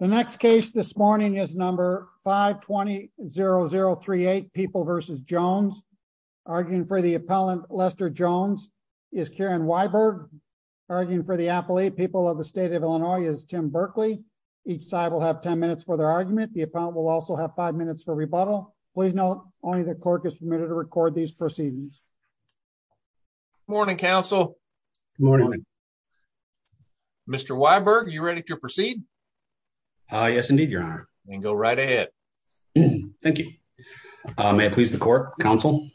The next case this morning is number 520038 People vs. Jones. Arguing for the appellant, Lester Jones, is Karen Weiberg. Arguing for the appellate, People of the State of Illinois, is Tim Berkley. Each side will have 10 minutes for their argument. The appellant will also have 5 minutes for rebuttal. Please note, only the clerk is permitted to record these proceedings. Good morning, counsel. Good morning. Mr. Weiberg, are you ready to proceed? Yes, indeed, your honor. Then go right ahead. Thank you. May it please the court, counsel.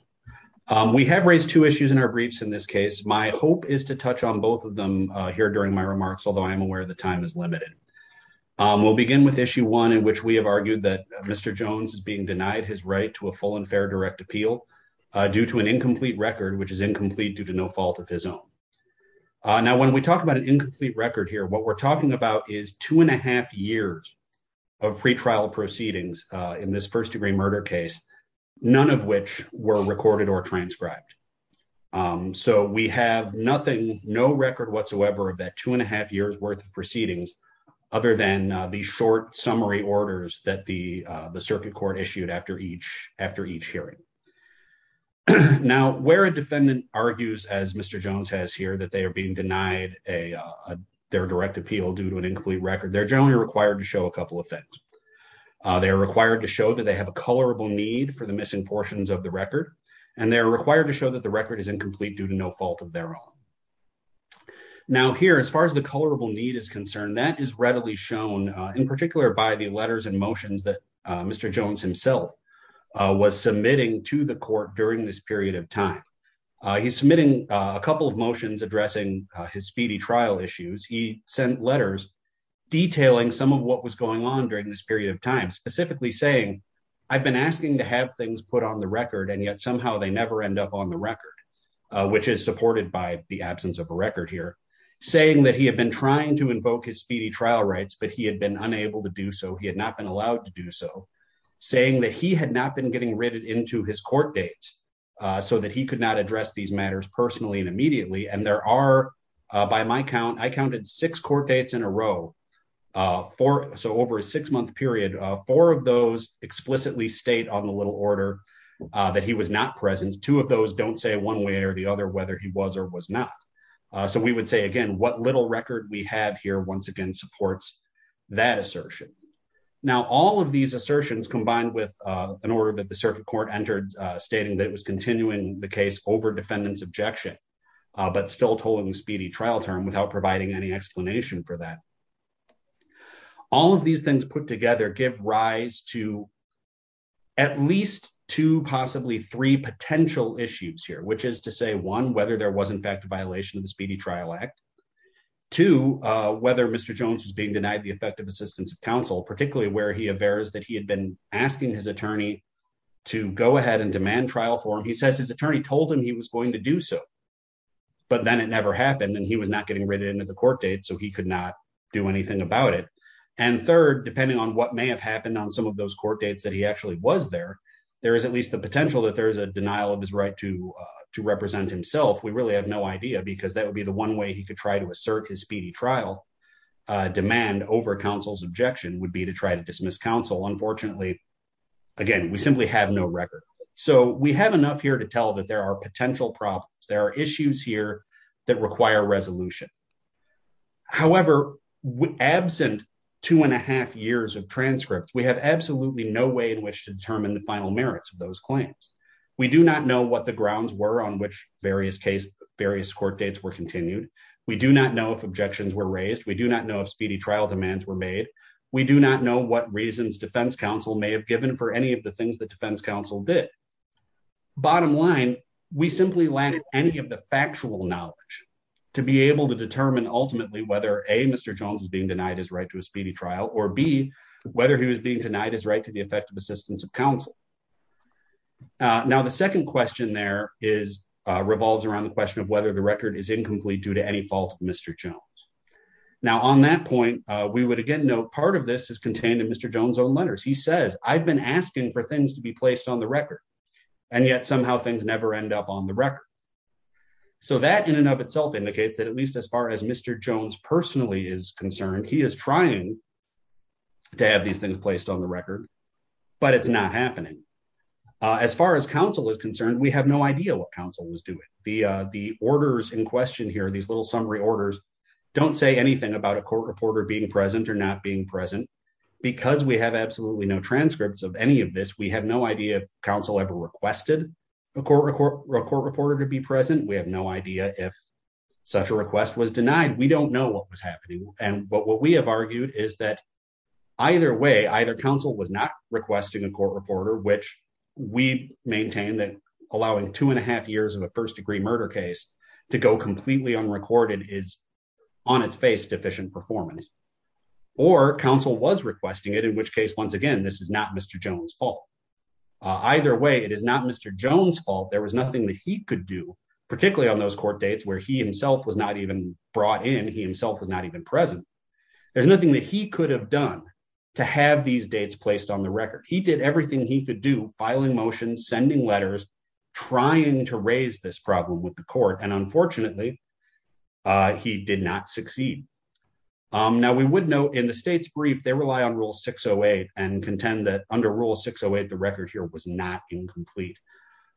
We have raised two issues in our briefs in this case. My hope is to touch on both of them here during my remarks, although I am aware the time is limited. We'll begin with issue 1, in which we have argued that Mr. Jones is being denied his right to a full and fair direct appeal due to an incomplete record, which is incomplete due to no of his own. Now, when we talk about an incomplete record here, what we're talking about is two and a half years of pretrial proceedings in this first-degree murder case, none of which were recorded or transcribed. So we have nothing, no record whatsoever of that two and a half years worth of proceedings, other than the short summary orders that the circuit court issued after each hearing. Now, where a defendant argues, as Mr. Jones has here, that they are being denied their direct appeal due to an incomplete record, they're generally required to show a couple of things. They are required to show that they have a colorable need for the missing portions of the record, and they are required to show that the record is incomplete due to no fault of their own. Now, here, as far as the colorable need is concerned, that is readily shown, in particular, by the letters and motions that Mr. Jones himself was submitting to the court during this period of time. He's submitting a couple of motions addressing his speedy trial issues. He sent letters detailing some of what was going on during this period of time, specifically saying, I've been asking to have things put on the record, and yet somehow they never end up on the record, which is supported by the absence of a record here, saying that he had been trying to invoke his speedy trial rights, but he had been unable to do so. He had not been allowed to do so, saying that he had not been getting written into his court date so that he could not address these matters personally and immediately. And there are, by my count, I counted six court dates in a row, so over a six-month period, four of those explicitly state on the little order that he was not present. Two of those don't say one way or the other whether he was or was not. So we would say, what little record we have here once again supports that assertion. Now, all of these assertions combined with an order that the circuit court entered stating that it was continuing the case over defendant's objection, but still tolling the speedy trial term without providing any explanation for that. All of these things put together give rise to at least two, possibly three potential issues here, which is to say one, whether there was in fact a violation of the two, whether Mr. Jones was being denied the effective assistance of counsel, particularly where he averts that he had been asking his attorney to go ahead and demand trial for him. He says his attorney told him he was going to do so, but then it never happened and he was not getting written into the court date, so he could not do anything about it. And third, depending on what may have happened on some of those court dates that he actually was there, there is at least the potential that there's a denial of his right to represent himself. We really have no idea because that would be the one way he could try to assert his speedy trial demand over counsel's objection would be to try to dismiss counsel. Unfortunately, again, we simply have no record. So we have enough here to tell that there are potential problems. There are issues here that require resolution. However, absent two and a half years of transcripts, we have absolutely no way in which to determine the final merits of those claims. We do not know what the grounds were on which various court dates were continued. We do not know if objections were raised. We do not know if speedy trial demands were made. We do not know what reasons defense counsel may have given for any of the things that defense counsel did. Bottom line, we simply lack any of the factual knowledge to be able to determine ultimately whether A, Mr. Jones is being denied his right to a speedy trial or B, whether he was being denied his right to the effective assistance of counsel. Now, the second question there revolves around the question of whether the record is incomplete due to any fault of Mr. Jones. Now, on that point, we would again note part of this is contained in Mr. Jones' own letters. He says, I've been asking for things to be placed on the record, and yet somehow things never end up on the record. So that in and of itself indicates that at least as far as Mr. Jones personally is concerned, he is trying to have these things placed on the record, but it's not happening. As far as counsel is concerned, we have no idea what counsel was doing. The orders in question here, these little summary orders, don't say anything about a court reporter being present or not being present. Because we have absolutely no transcripts of any of this, we have no idea if counsel ever requested a court reporter to be present. We have no idea if such a request was denied. We don't know what was happening. But what we have requested is not requesting a court reporter, which we maintain that allowing two and a half years of a first degree murder case to go completely unrecorded is on its face deficient performance. Or counsel was requesting it, in which case, once again, this is not Mr. Jones' fault. Either way, it is not Mr. Jones' fault. There was nothing that he could do, particularly on those court dates where he himself was not even brought in, he himself was not even present. There's nothing that he could have done to have these dates placed on the record. He did everything he could do, filing motions, sending letters, trying to raise this problem with the court, and unfortunately, he did not succeed. Now, we would note in the state's brief, they rely on Rule 608 and contend that under Rule 608, the record here was not incomplete.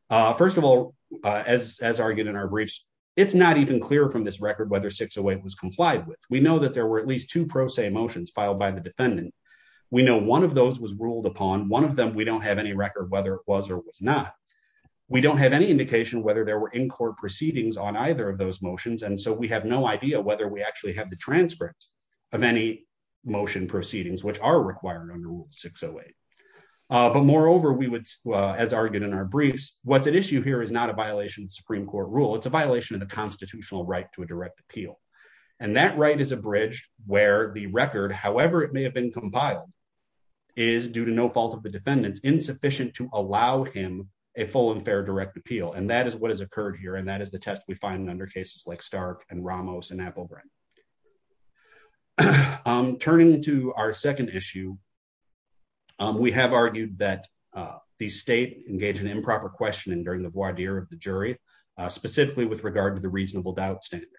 First of all, as argued in our briefs, it's not even clear from this record whether 608 was at least two pro se motions filed by the defendant. We know one of those was ruled upon. One of them, we don't have any record whether it was or was not. We don't have any indication whether there were in-court proceedings on either of those motions, and so we have no idea whether we actually have the transcripts of any motion proceedings, which are required under Rule 608. But moreover, as argued in our briefs, what's at issue here is not a violation of the Supreme Court rule, it's a violation of the constitutional right to a direct appeal. And that right is where the record, however it may have been compiled, is due to no fault of the defendant's insufficient to allow him a full and fair direct appeal. And that is what has occurred here, and that is the test we find under cases like Stark and Ramos and Applebren. Turning to our second issue, we have argued that the state engaged in improper questioning during the voir dire of the jury, specifically with regard to the reasonable doubt standard.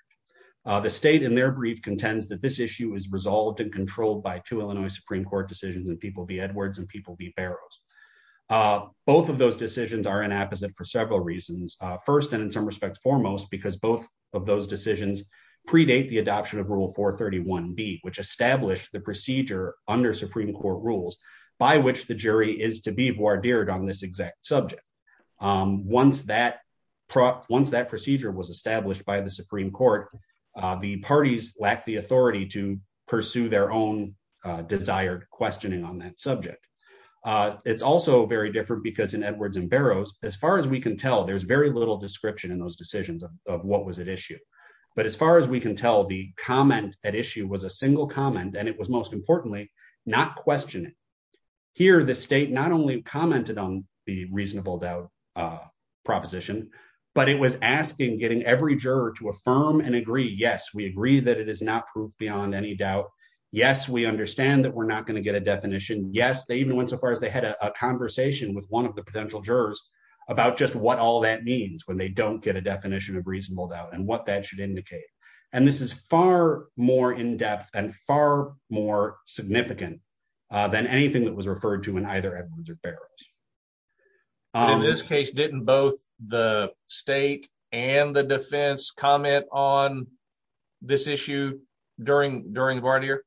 The state in their brief contends that this issue is resolved and controlled by two Illinois Supreme Court decisions in People v. Edwards and People v. Barrows. Both of those decisions are inapposite for several reasons. First, and in some respects foremost, because both of those decisions predate the adoption of Rule 431B, which established the procedure under Supreme Court rules by which the jury is to be voir dired on this exact subject. Once that procedure was established, the parties lacked the authority to pursue their own desired questioning on that subject. It is also very different because in Edwards and Barrows, as far as we can tell, there is very little description in those decisions of what was at issue. But as far as we can tell, the comment at issue was a single comment, and it was most importantly, not questioning. Here, the state not only commented on the reasonable doubt proposition, but it was asking getting every juror to affirm and agree, yes, we agree that it is not proof beyond any doubt. Yes, we understand that we're not going to get a definition. Yes, they even went so far as they had a conversation with one of the potential jurors about just what all that means when they don't get a definition of reasonable doubt and what that should indicate. And this is far more in-depth and far more significant than anything that was referred to in either Edwards or Barrows. In this case, didn't both the state and the defense comment on this issue during voir dire?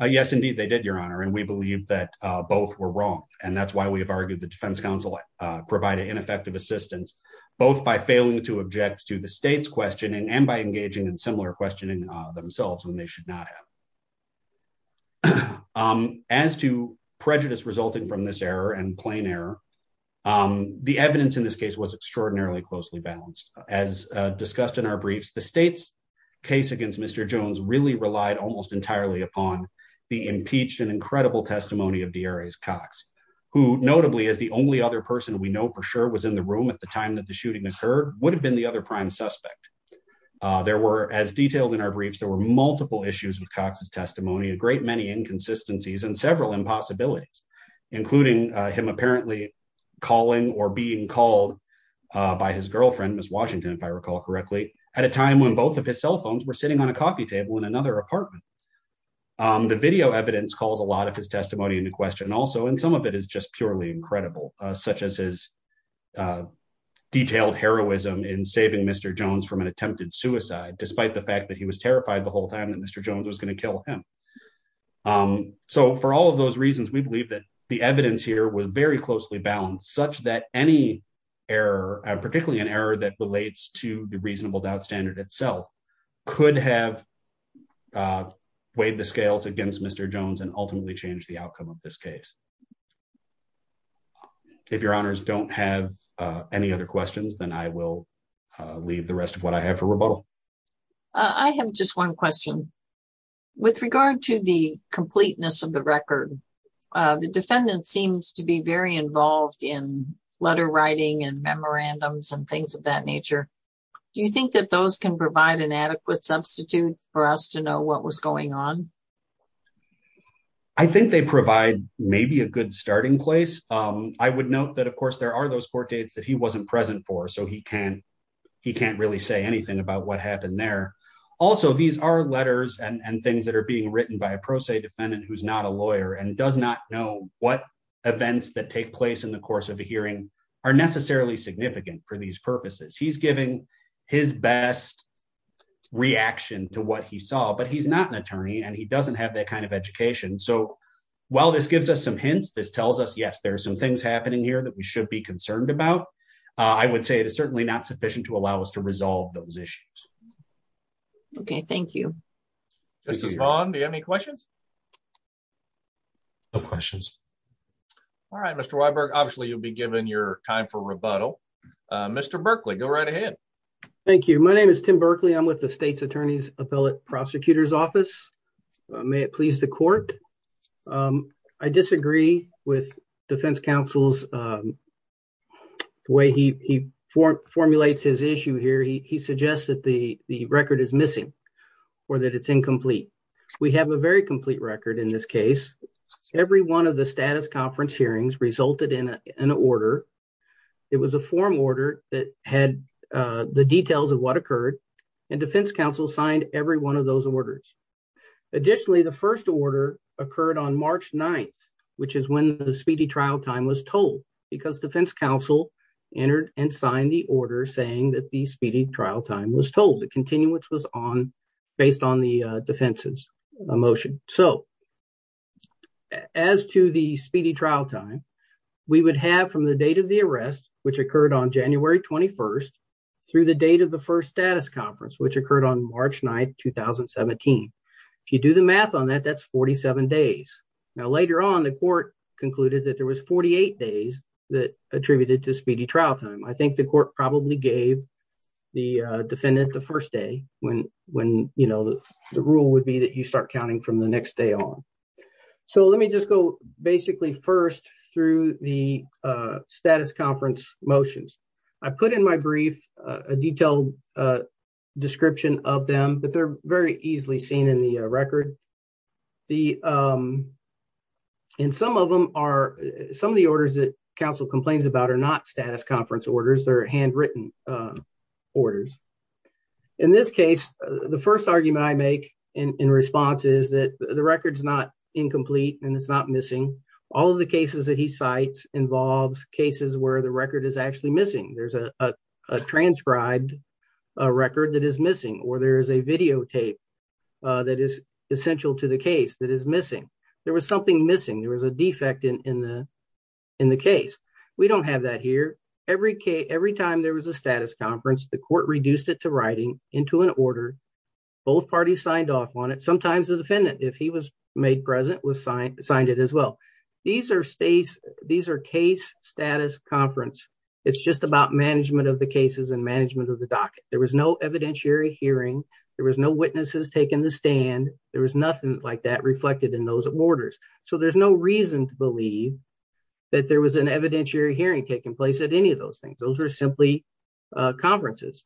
Yes, indeed, they did, Your Honor. And we believe that both were wrong. And that's why we have argued the defense counsel provided ineffective assistance, both by failing to object to the state's questioning and by engaging in similar questioning themselves when they should not have. As to prejudice resulting from this error and plain error, the evidence in this case was extraordinarily closely balanced. As discussed in our briefs, the state's case against Mr. Jones really relied almost entirely upon the impeached and incredible testimony of D.R.A.'s Cox, who notably is the only other person we know for sure was in the room at the time that the shooting occurred, would have been the other prime suspect. There were, as detailed in our briefs, there were multiple issues with Cox's testimony, a great many inconsistencies and several impossibilities, including him apparently calling or being called by his girlfriend, Ms. Washington, if I recall correctly, at a time when both of his cell phones were sitting on a coffee table in another apartment. The video evidence calls a lot of his testimony into question also, and some of it is just purely incredible, such as Cox's detailed heroism in saving Mr. Jones from an attempted suicide, despite the fact that he was terrified the whole time that Mr. Jones was going to kill him. So for all of those reasons, we believe that the evidence here was very closely balanced, such that any error, particularly an error that relates to the reasonable doubt standard itself, could have weighed the scales against Mr. Jones and ultimately change the outcome of this case. If your honors don't have any other questions, then I will leave the rest of what I have for rebuttal. I have just one question. With regard to the completeness of the record, the defendant seems to be very involved in letter writing and memorandums and things of that nature. Do you think that those can provide an adequate substitute for us to know what was going on? I think they provide maybe a good starting place. I would note that, of course, there are those court dates that he wasn't present for, so he can't really say anything about what happened there. Also, these are letters and things that are being written by a pro se defendant who's not a lawyer and does not know what events that take place in the course of a hearing are necessarily significant for these purposes. He's giving his best reaction to what he saw, but he's not an attorney and he doesn't have that kind of education. So while this gives us some hints, this tells us, yes, there are some things happening here that we should be concerned about. I would say it is certainly not sufficient to allow us to resolve those issues. Okay, thank you. Justice Vaughn, do you have any questions? No questions. All right, Mr. Weiberg, obviously you'll be given your time for rebuttal. Mr. Berkley, go right ahead. Thank you. My name is Tim Berkley. I'm with the state's attorney's appellate prosecutor's office. May it please the court? I disagree with defense counsel's way he formulates his issue here. He suggests that the record is missing or that it's incomplete. We have a very complete record in this case. Every one of the status conference hearings resulted in an order. It was a form order that had the details of what occurred and defense counsel signed every one of those orders. Additionally, the first order occurred on March 9th, which is when the speedy trial time was told because defense counsel entered and signed the order saying that the speedy trial time was told. The continuance was on based on the defense's motion. As to the speedy trial time, we would have from the date of the arrest, which occurred on January 21st, through the date of the first status conference, which occurred on March 9th, 2017. If you do the math on that, that's 47 days. Now, later on, the court concluded that there was 48 days that attributed to speedy trial time. I think the court probably gave the defendant the first day when the rule would be that you start counting from the next day on. Let me just go basically first through the status conference motions. I put in my brief a detailed description of them, but they're very easily seen in the record. Some of the orders that counsel complains about are not status conference orders. They're handwritten orders. In this case, the first argument I make in response is that the record's not incomplete and it's not missing. All of the cases that he cites involve cases where the record is actually missing. There's a transcribed record that is missing or there is a videotape that is essential to the case that is missing. There was something missing. There was a defect in the case. We don't have that here. Every time there was a status conference, the court reduced it to writing into an order. Both parties signed off on it. Sometimes the defendant, if he was made present, signed it as well. These are case status conference. It's just about management of the cases and management of the docket. There was no evidentiary hearing. There was no witnesses taking the stand. There was nothing like that reflected in those orders. There's no reason to believe that there was an evidentiary hearing taking place at any of those things. Those were simply conferences.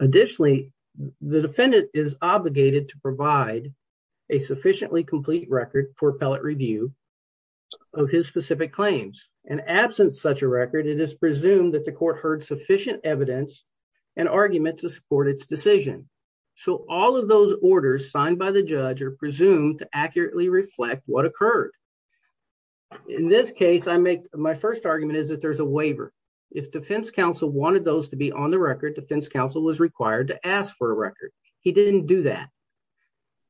Additionally, the defendant is obligated to provide a sufficiently complete record for appellate review of his specific claims. In absence of such a record, it is presumed that the court heard orders signed by the judge are presumed to accurately reflect what occurred. In this case, my first argument is that there's a waiver. If defense counsel wanted those to be on the record, defense counsel was required to ask for a record. He didn't do that.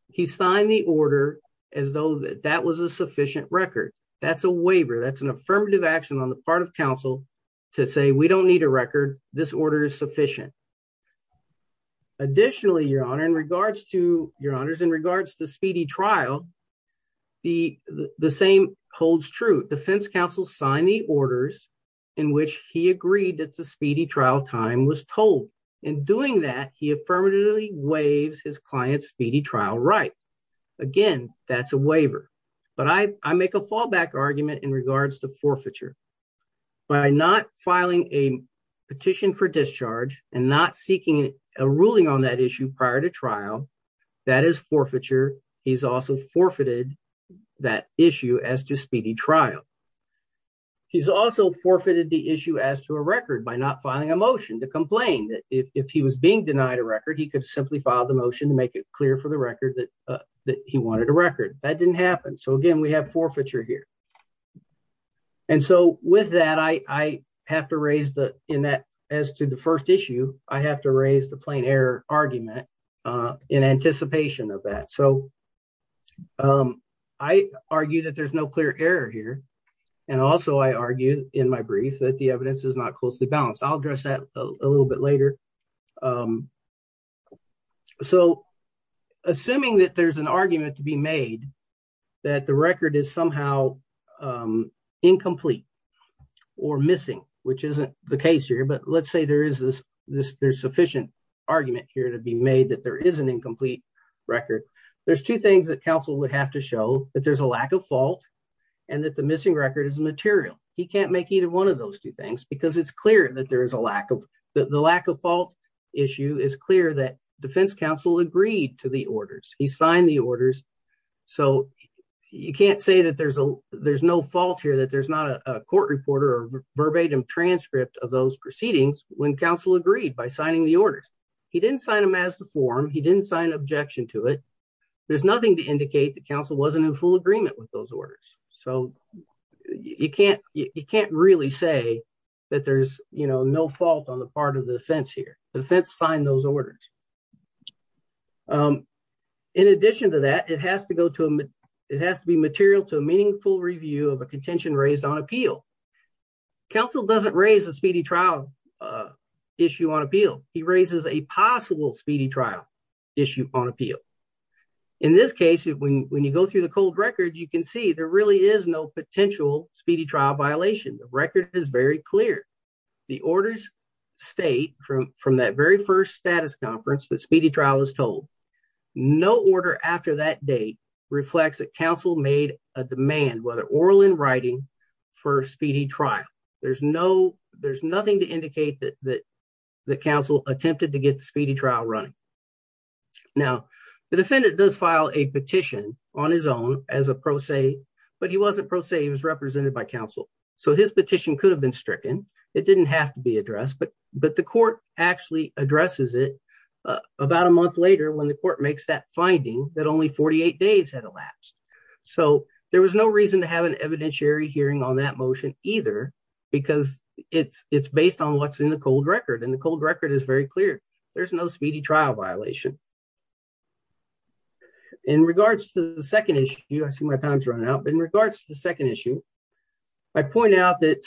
He signed the order as though that was a sufficient record. That's a waiver. That's an affirmative action on the part of counsel to say we don't need a record. This order is sufficient. Additionally, your honor, in regards to speedy trial, the same holds true. Defense counsel signed the orders in which he agreed that the speedy trial time was told. In doing that, he affirmatively waives his client's speedy trial right. Again, that's a waiver. But I make a fallback argument in regards to forfeiture. By not filing a petition for discharge and not seeking a ruling on that issue prior to trial, that is forfeiture. He's also forfeited that issue as to speedy trial. He's also forfeited the issue as to a record by not filing a motion to complain. If he was being denied a record, he could simply file the motion to make it clear for the record that he wanted a record. That didn't happen. So again, we have forfeiture here. And so with that, as to the first issue, I have to raise the plain error argument in anticipation of that. So I argue that there's no clear error here. And also I argue in my brief that the evidence is not closely balanced. I'll address that a little bit later. So assuming that there's an argument to be made that the record is somehow incomplete or missing, which isn't the case here. But let's say there's sufficient argument here to be made that there is an incomplete record. There's two things that counsel would have to show that there's a lack of fault and that the missing record is material. He can't make either one of those two things because it's clear that the lack of fault issue is clear that defense counsel agreed to the orders. He signed the orders. So you can't say that there's no fault here, that there's not a court reporter or verbatim transcript of those proceedings when counsel agreed by signing the orders. He didn't sign them as the form. He didn't sign objection to it. There's nothing to indicate that counsel wasn't in full agreement with those orders. So you can't really say that there's no fault on the part of the defense here. The defense signed those orders. In addition to that, it has to be material to a meaningful review of a contention raised on appeal. Counsel doesn't raise a speedy trial issue on appeal. He raises a possible speedy trial issue on appeal. In this case, when you go through the cold record, you can see there really is no potential speedy trial violation. The record is very clear. The orders state from that very first status conference that order after that date reflects that counsel made a demand, whether oral in writing, for a speedy trial. There's nothing to indicate that counsel attempted to get the speedy trial running. Now, the defendant does file a petition on his own as a pro se, but he wasn't pro se. He was represented by counsel. So his petition could have been stricken. It didn't have to be addressed, but the court actually addresses it about a month later when the court makes that finding that only 48 days had elapsed. So there was no reason to have an evidentiary hearing on that motion either because it's based on what's in the cold record, and the cold record is very clear. There's no speedy trial violation. In regards to the second issue, I see my time's running out, but I want to make a point that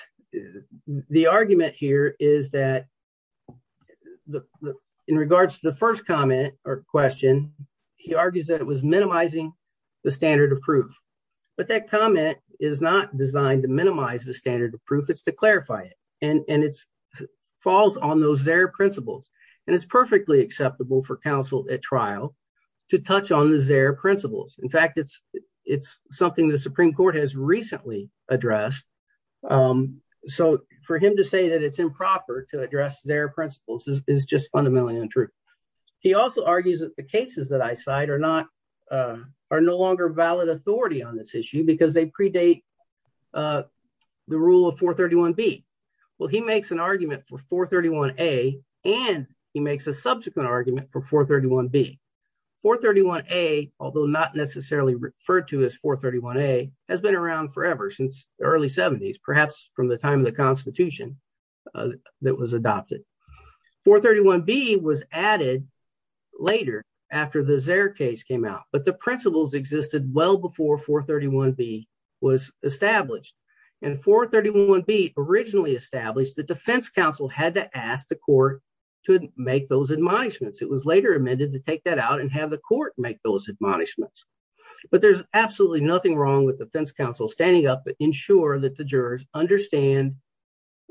in regards to the first comment or question, he argues that it was minimizing the standard of proof, but that comment is not designed to minimize the standard of proof. It's to clarify it, and it falls on those ZARE principles, and it's perfectly acceptable for counsel at trial to touch on the ZARE principles. In fact, it's something the Supreme Court has addressed. ZARE principles is just fundamentally untrue. He also argues that the cases that I cite are no longer valid authority on this issue because they predate the rule of 431B. Well, he makes an argument for 431A, and he makes a subsequent argument for 431B. 431A, although not necessarily referred to as 431A, has been around forever since the early 70s, perhaps from the time the Constitution that was adopted. 431B was added later after the ZARE case came out, but the principles existed well before 431B was established, and 431B originally established that defense counsel had to ask the court to make those admonishments. It was later amended to take that out and have the court make those admonishments, but there's absolutely nothing wrong with defense counsel standing up to ensure that the jurors understand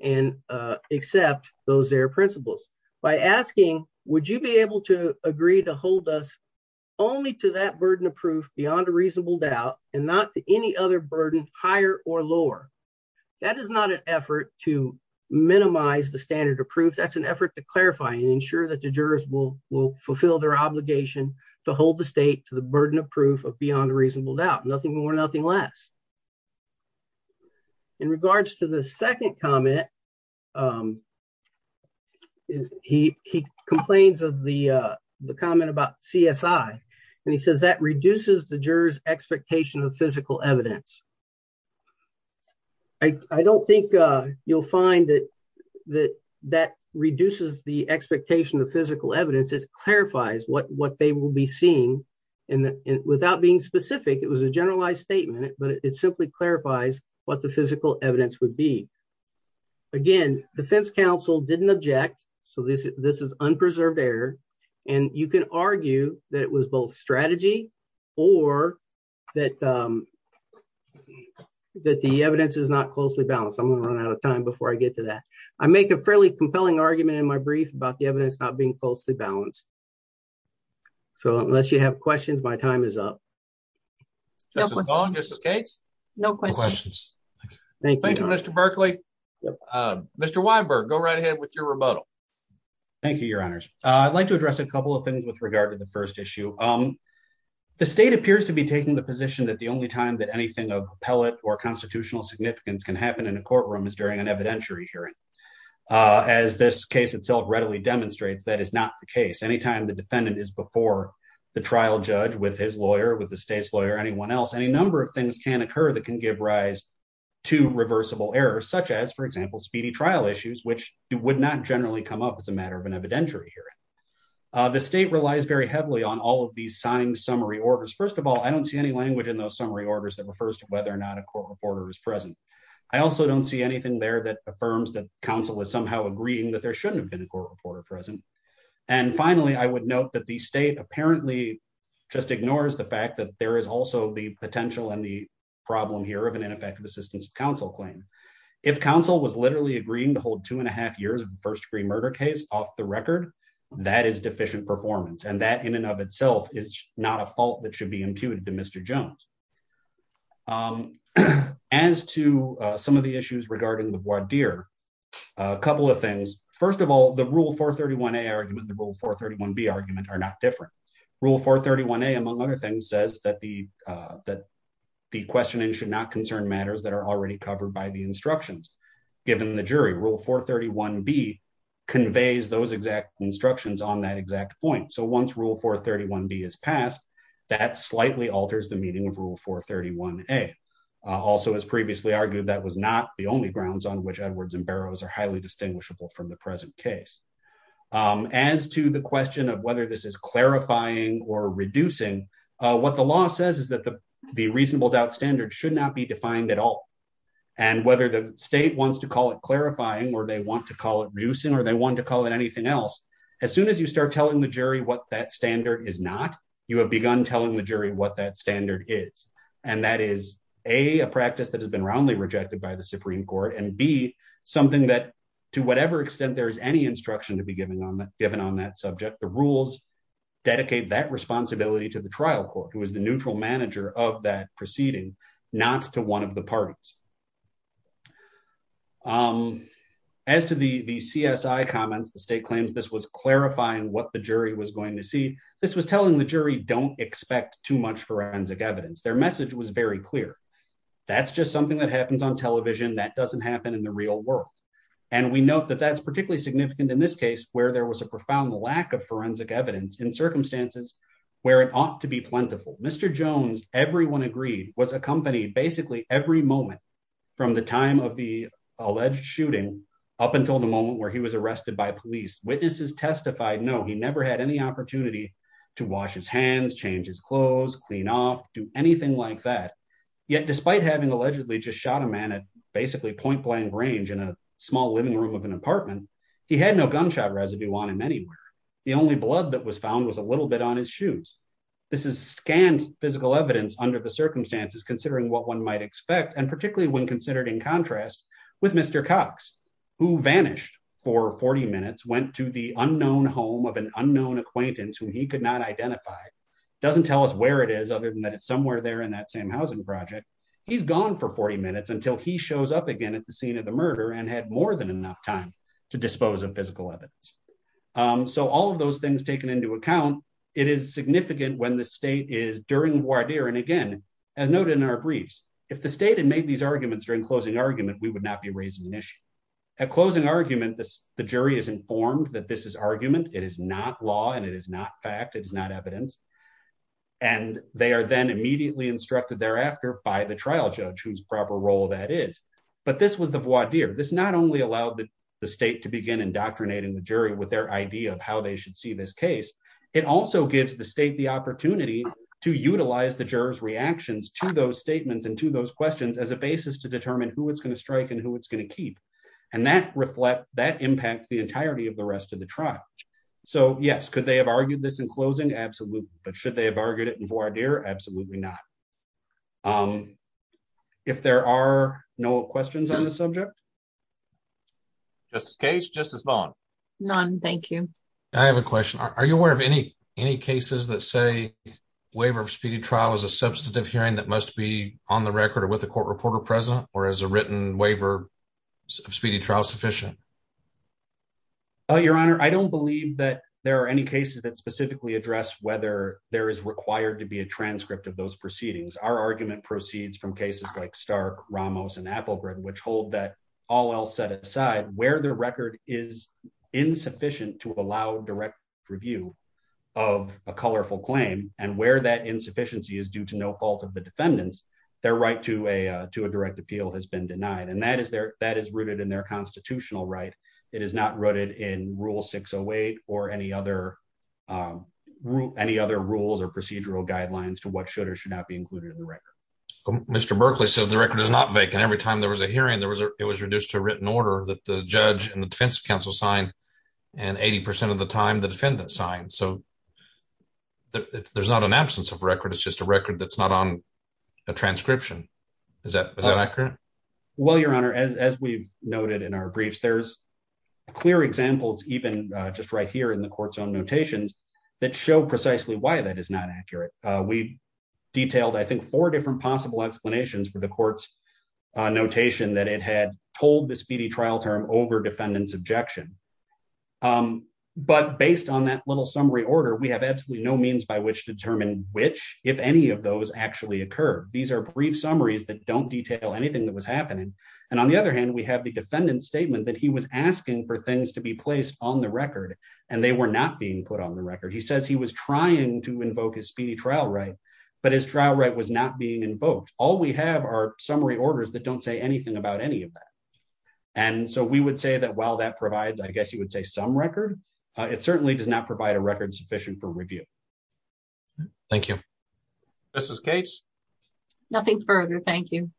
and accept those ZARE principles. By asking, would you be able to agree to hold us only to that burden of proof beyond a reasonable doubt and not to any other burden higher or lower? That is not an effort to minimize the standard of proof. That's an effort to clarify and ensure that the jurors will fulfill their obligation to hold the state to the burden of proof of beyond a reasonable doubt. Nothing more, nothing less. In regards to the second comment, he complains of the comment about CSI, and he says that reduces the jurors' expectation of physical evidence. I don't think you'll find that that reduces the expectation of physical evidence. It clarifies what they will be seeing, and without being specific, it was a generalized statement, but it simply clarifies what the physical evidence would be. Again, defense counsel didn't object, so this is unpreserved error, and you can argue that it was both strategy or that the evidence is not closely balanced. I'm going to run out of time before I get to that. I make a fairly compelling argument in my brief about the evidence not being closely balanced, so unless you have questions, my time is up. Thank you, Mr. Berkley. Mr. Weinberg, go right ahead with your rebuttal. Thank you, your honors. I'd like to address a couple of things with regard to the first issue. The state appears to be taking the position that the only time that anything of appellate or constitutional significance can happen in a courtroom is during an evidentiary hearing, as this case itself readily demonstrates. That is not the case. Anytime the defendant is before the trial judge with his lawyer, with the state's lawyer, anyone else, any number of things can occur that can give rise to reversible errors, such as, for example, speedy trial issues, which would not generally come up as a matter of an evidentiary hearing. The state relies very heavily on all of these signed summary orders. First of all, I don't see any language in those summary orders that refers to whether or not a court reporter is present. I also don't see anything there that affirms that counsel is somehow agreeing that there shouldn't have been a court reporter present. And finally, I would note that the state apparently just ignores the fact that there is also the potential and the problem here of an ineffective assistance of counsel claim. If counsel was literally agreeing to hold two and a half years of first degree murder case off the record, that is deficient performance. And that in and of itself is not a fault that should be in the voir dire. A couple of things. First of all, the Rule 431A argument and the Rule 431B argument are not different. Rule 431A, among other things, says that the questioning should not concern matters that are already covered by the instructions given the jury. Rule 431B conveys those exact instructions on that exact point. So once Rule 431B is passed, that slightly alters the meaning of Rule 431A. Also, as previously argued, that was not the only grounds on which Edwards and Barrows are highly distinguishable from the present case. As to the question of whether this is clarifying or reducing, what the law says is that the reasonable doubt standard should not be defined at all. And whether the state wants to call it clarifying or they want to call it reducing or they want to call it anything else, as soon as you start telling the jury what that standard is not, you have begun telling the jury what that and be something that, to whatever extent there is any instruction to be given on that subject, the rules dedicate that responsibility to the trial court, who is the neutral manager of that proceeding, not to one of the parties. As to the CSI comments, the state claims this was clarifying what the jury was going to see. This was telling the jury don't expect too much forensic evidence. Their message was very clear. That's just something that happens on television. That doesn't happen in the real world. And we note that that's particularly significant in this case, where there was a profound lack of forensic evidence in circumstances where it ought to be plentiful. Mr. Jones, everyone agreed, was accompanied basically every moment from the time of the alleged shooting up until the moment where he was arrested by police. Witnesses testified, no, he never had any opportunity to wash his hands, change his clothes, clean off, do anything like that. Yet, despite having allegedly just shot a man at basically point blank range in a small living room of an apartment, he had no gunshot residue on him anywhere. The only blood that was found was a little bit on his shoes. This is scanned physical evidence under the circumstances, considering what one might expect, and particularly when considered in contrast with Mr. Cox, who vanished for 40 minutes, went to the unknown home of an unknown acquaintance whom he could not identify. Doesn't tell us where it is, other than that it's somewhere there in that same housing project. He's gone for 40 minutes until he shows up again at the scene of the murder and had more than enough time to dispose of physical evidence. So all of those things taken into account, it is significant when the state is during voir dire. And again, as noted in our briefs, if the state had made these arguments during closing argument, we would not be raising an closing argument. The jury is informed that this is argument. It is not law and it is not fact. It is not evidence. And they are then immediately instructed thereafter by the trial judge whose proper role that is. But this was the voir dire. This not only allowed the state to begin indoctrinating the jury with their idea of how they should see this case, it also gives the state the opportunity to utilize the juror's reactions to those statements and to those questions as a reflect that impact the entirety of the rest of the trial. So yes, could they have argued this in closing? Absolutely. But should they have argued it in voir dire? Absolutely not. If there are no questions on the subject. Justice Cage, Justice Vaughn. None, thank you. I have a question. Are you aware of any cases that say waiver of speedy trial is a substantive hearing that must be on the record or with a court reporter present or as a written waiver of speedy trial sufficient? Your Honor, I don't believe that there are any cases that specifically address whether there is required to be a transcript of those proceedings. Our argument proceeds from cases like Stark, Ramos and Applegren, which hold that all else set aside where the record is insufficient to allow direct review of a colorful claim and where that insufficiency is due to no fault of defendants, their right to a direct appeal has been denied. And that is rooted in their constitutional right. It is not rooted in Rule 608 or any other rules or procedural guidelines to what should or should not be included in the record. Mr. Berkley says the record is not vacant. Every time there was a hearing, it was reduced to a written order that the judge and the defense counsel signed and 80% of the time the defendant signed. So there's not an absence of record. It's just a record that's not on a transcription. Is that accurate? Well, Your Honor, as we've noted in our briefs, there's clear examples even just right here in the court's own notations that show precisely why that is not accurate. We detailed, I think, four different possible explanations for the court's notation that it had told the speedy order, we have absolutely no means by which to determine which, if any of those actually occur. These are brief summaries that don't detail anything that was happening. And on the other hand, we have the defendant's statement that he was asking for things to be placed on the record and they were not being put on the record. He says he was trying to invoke his speedy trial right, but his trial right was not being invoked. All we have are summary orders that don't say anything about any of that. And so we would say that while that provides, I guess you would say some record, it certainly does not provide a record sufficient for review. Thank you. Justice Gates? Nothing further. Thank you.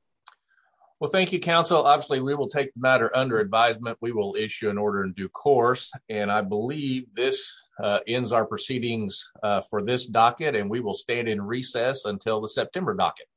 Well, thank you, counsel. Obviously, we will take the matter under advisement. We will issue an order in due course. And I believe this ends our proceedings for this docket and we will stand in recess until the September docket.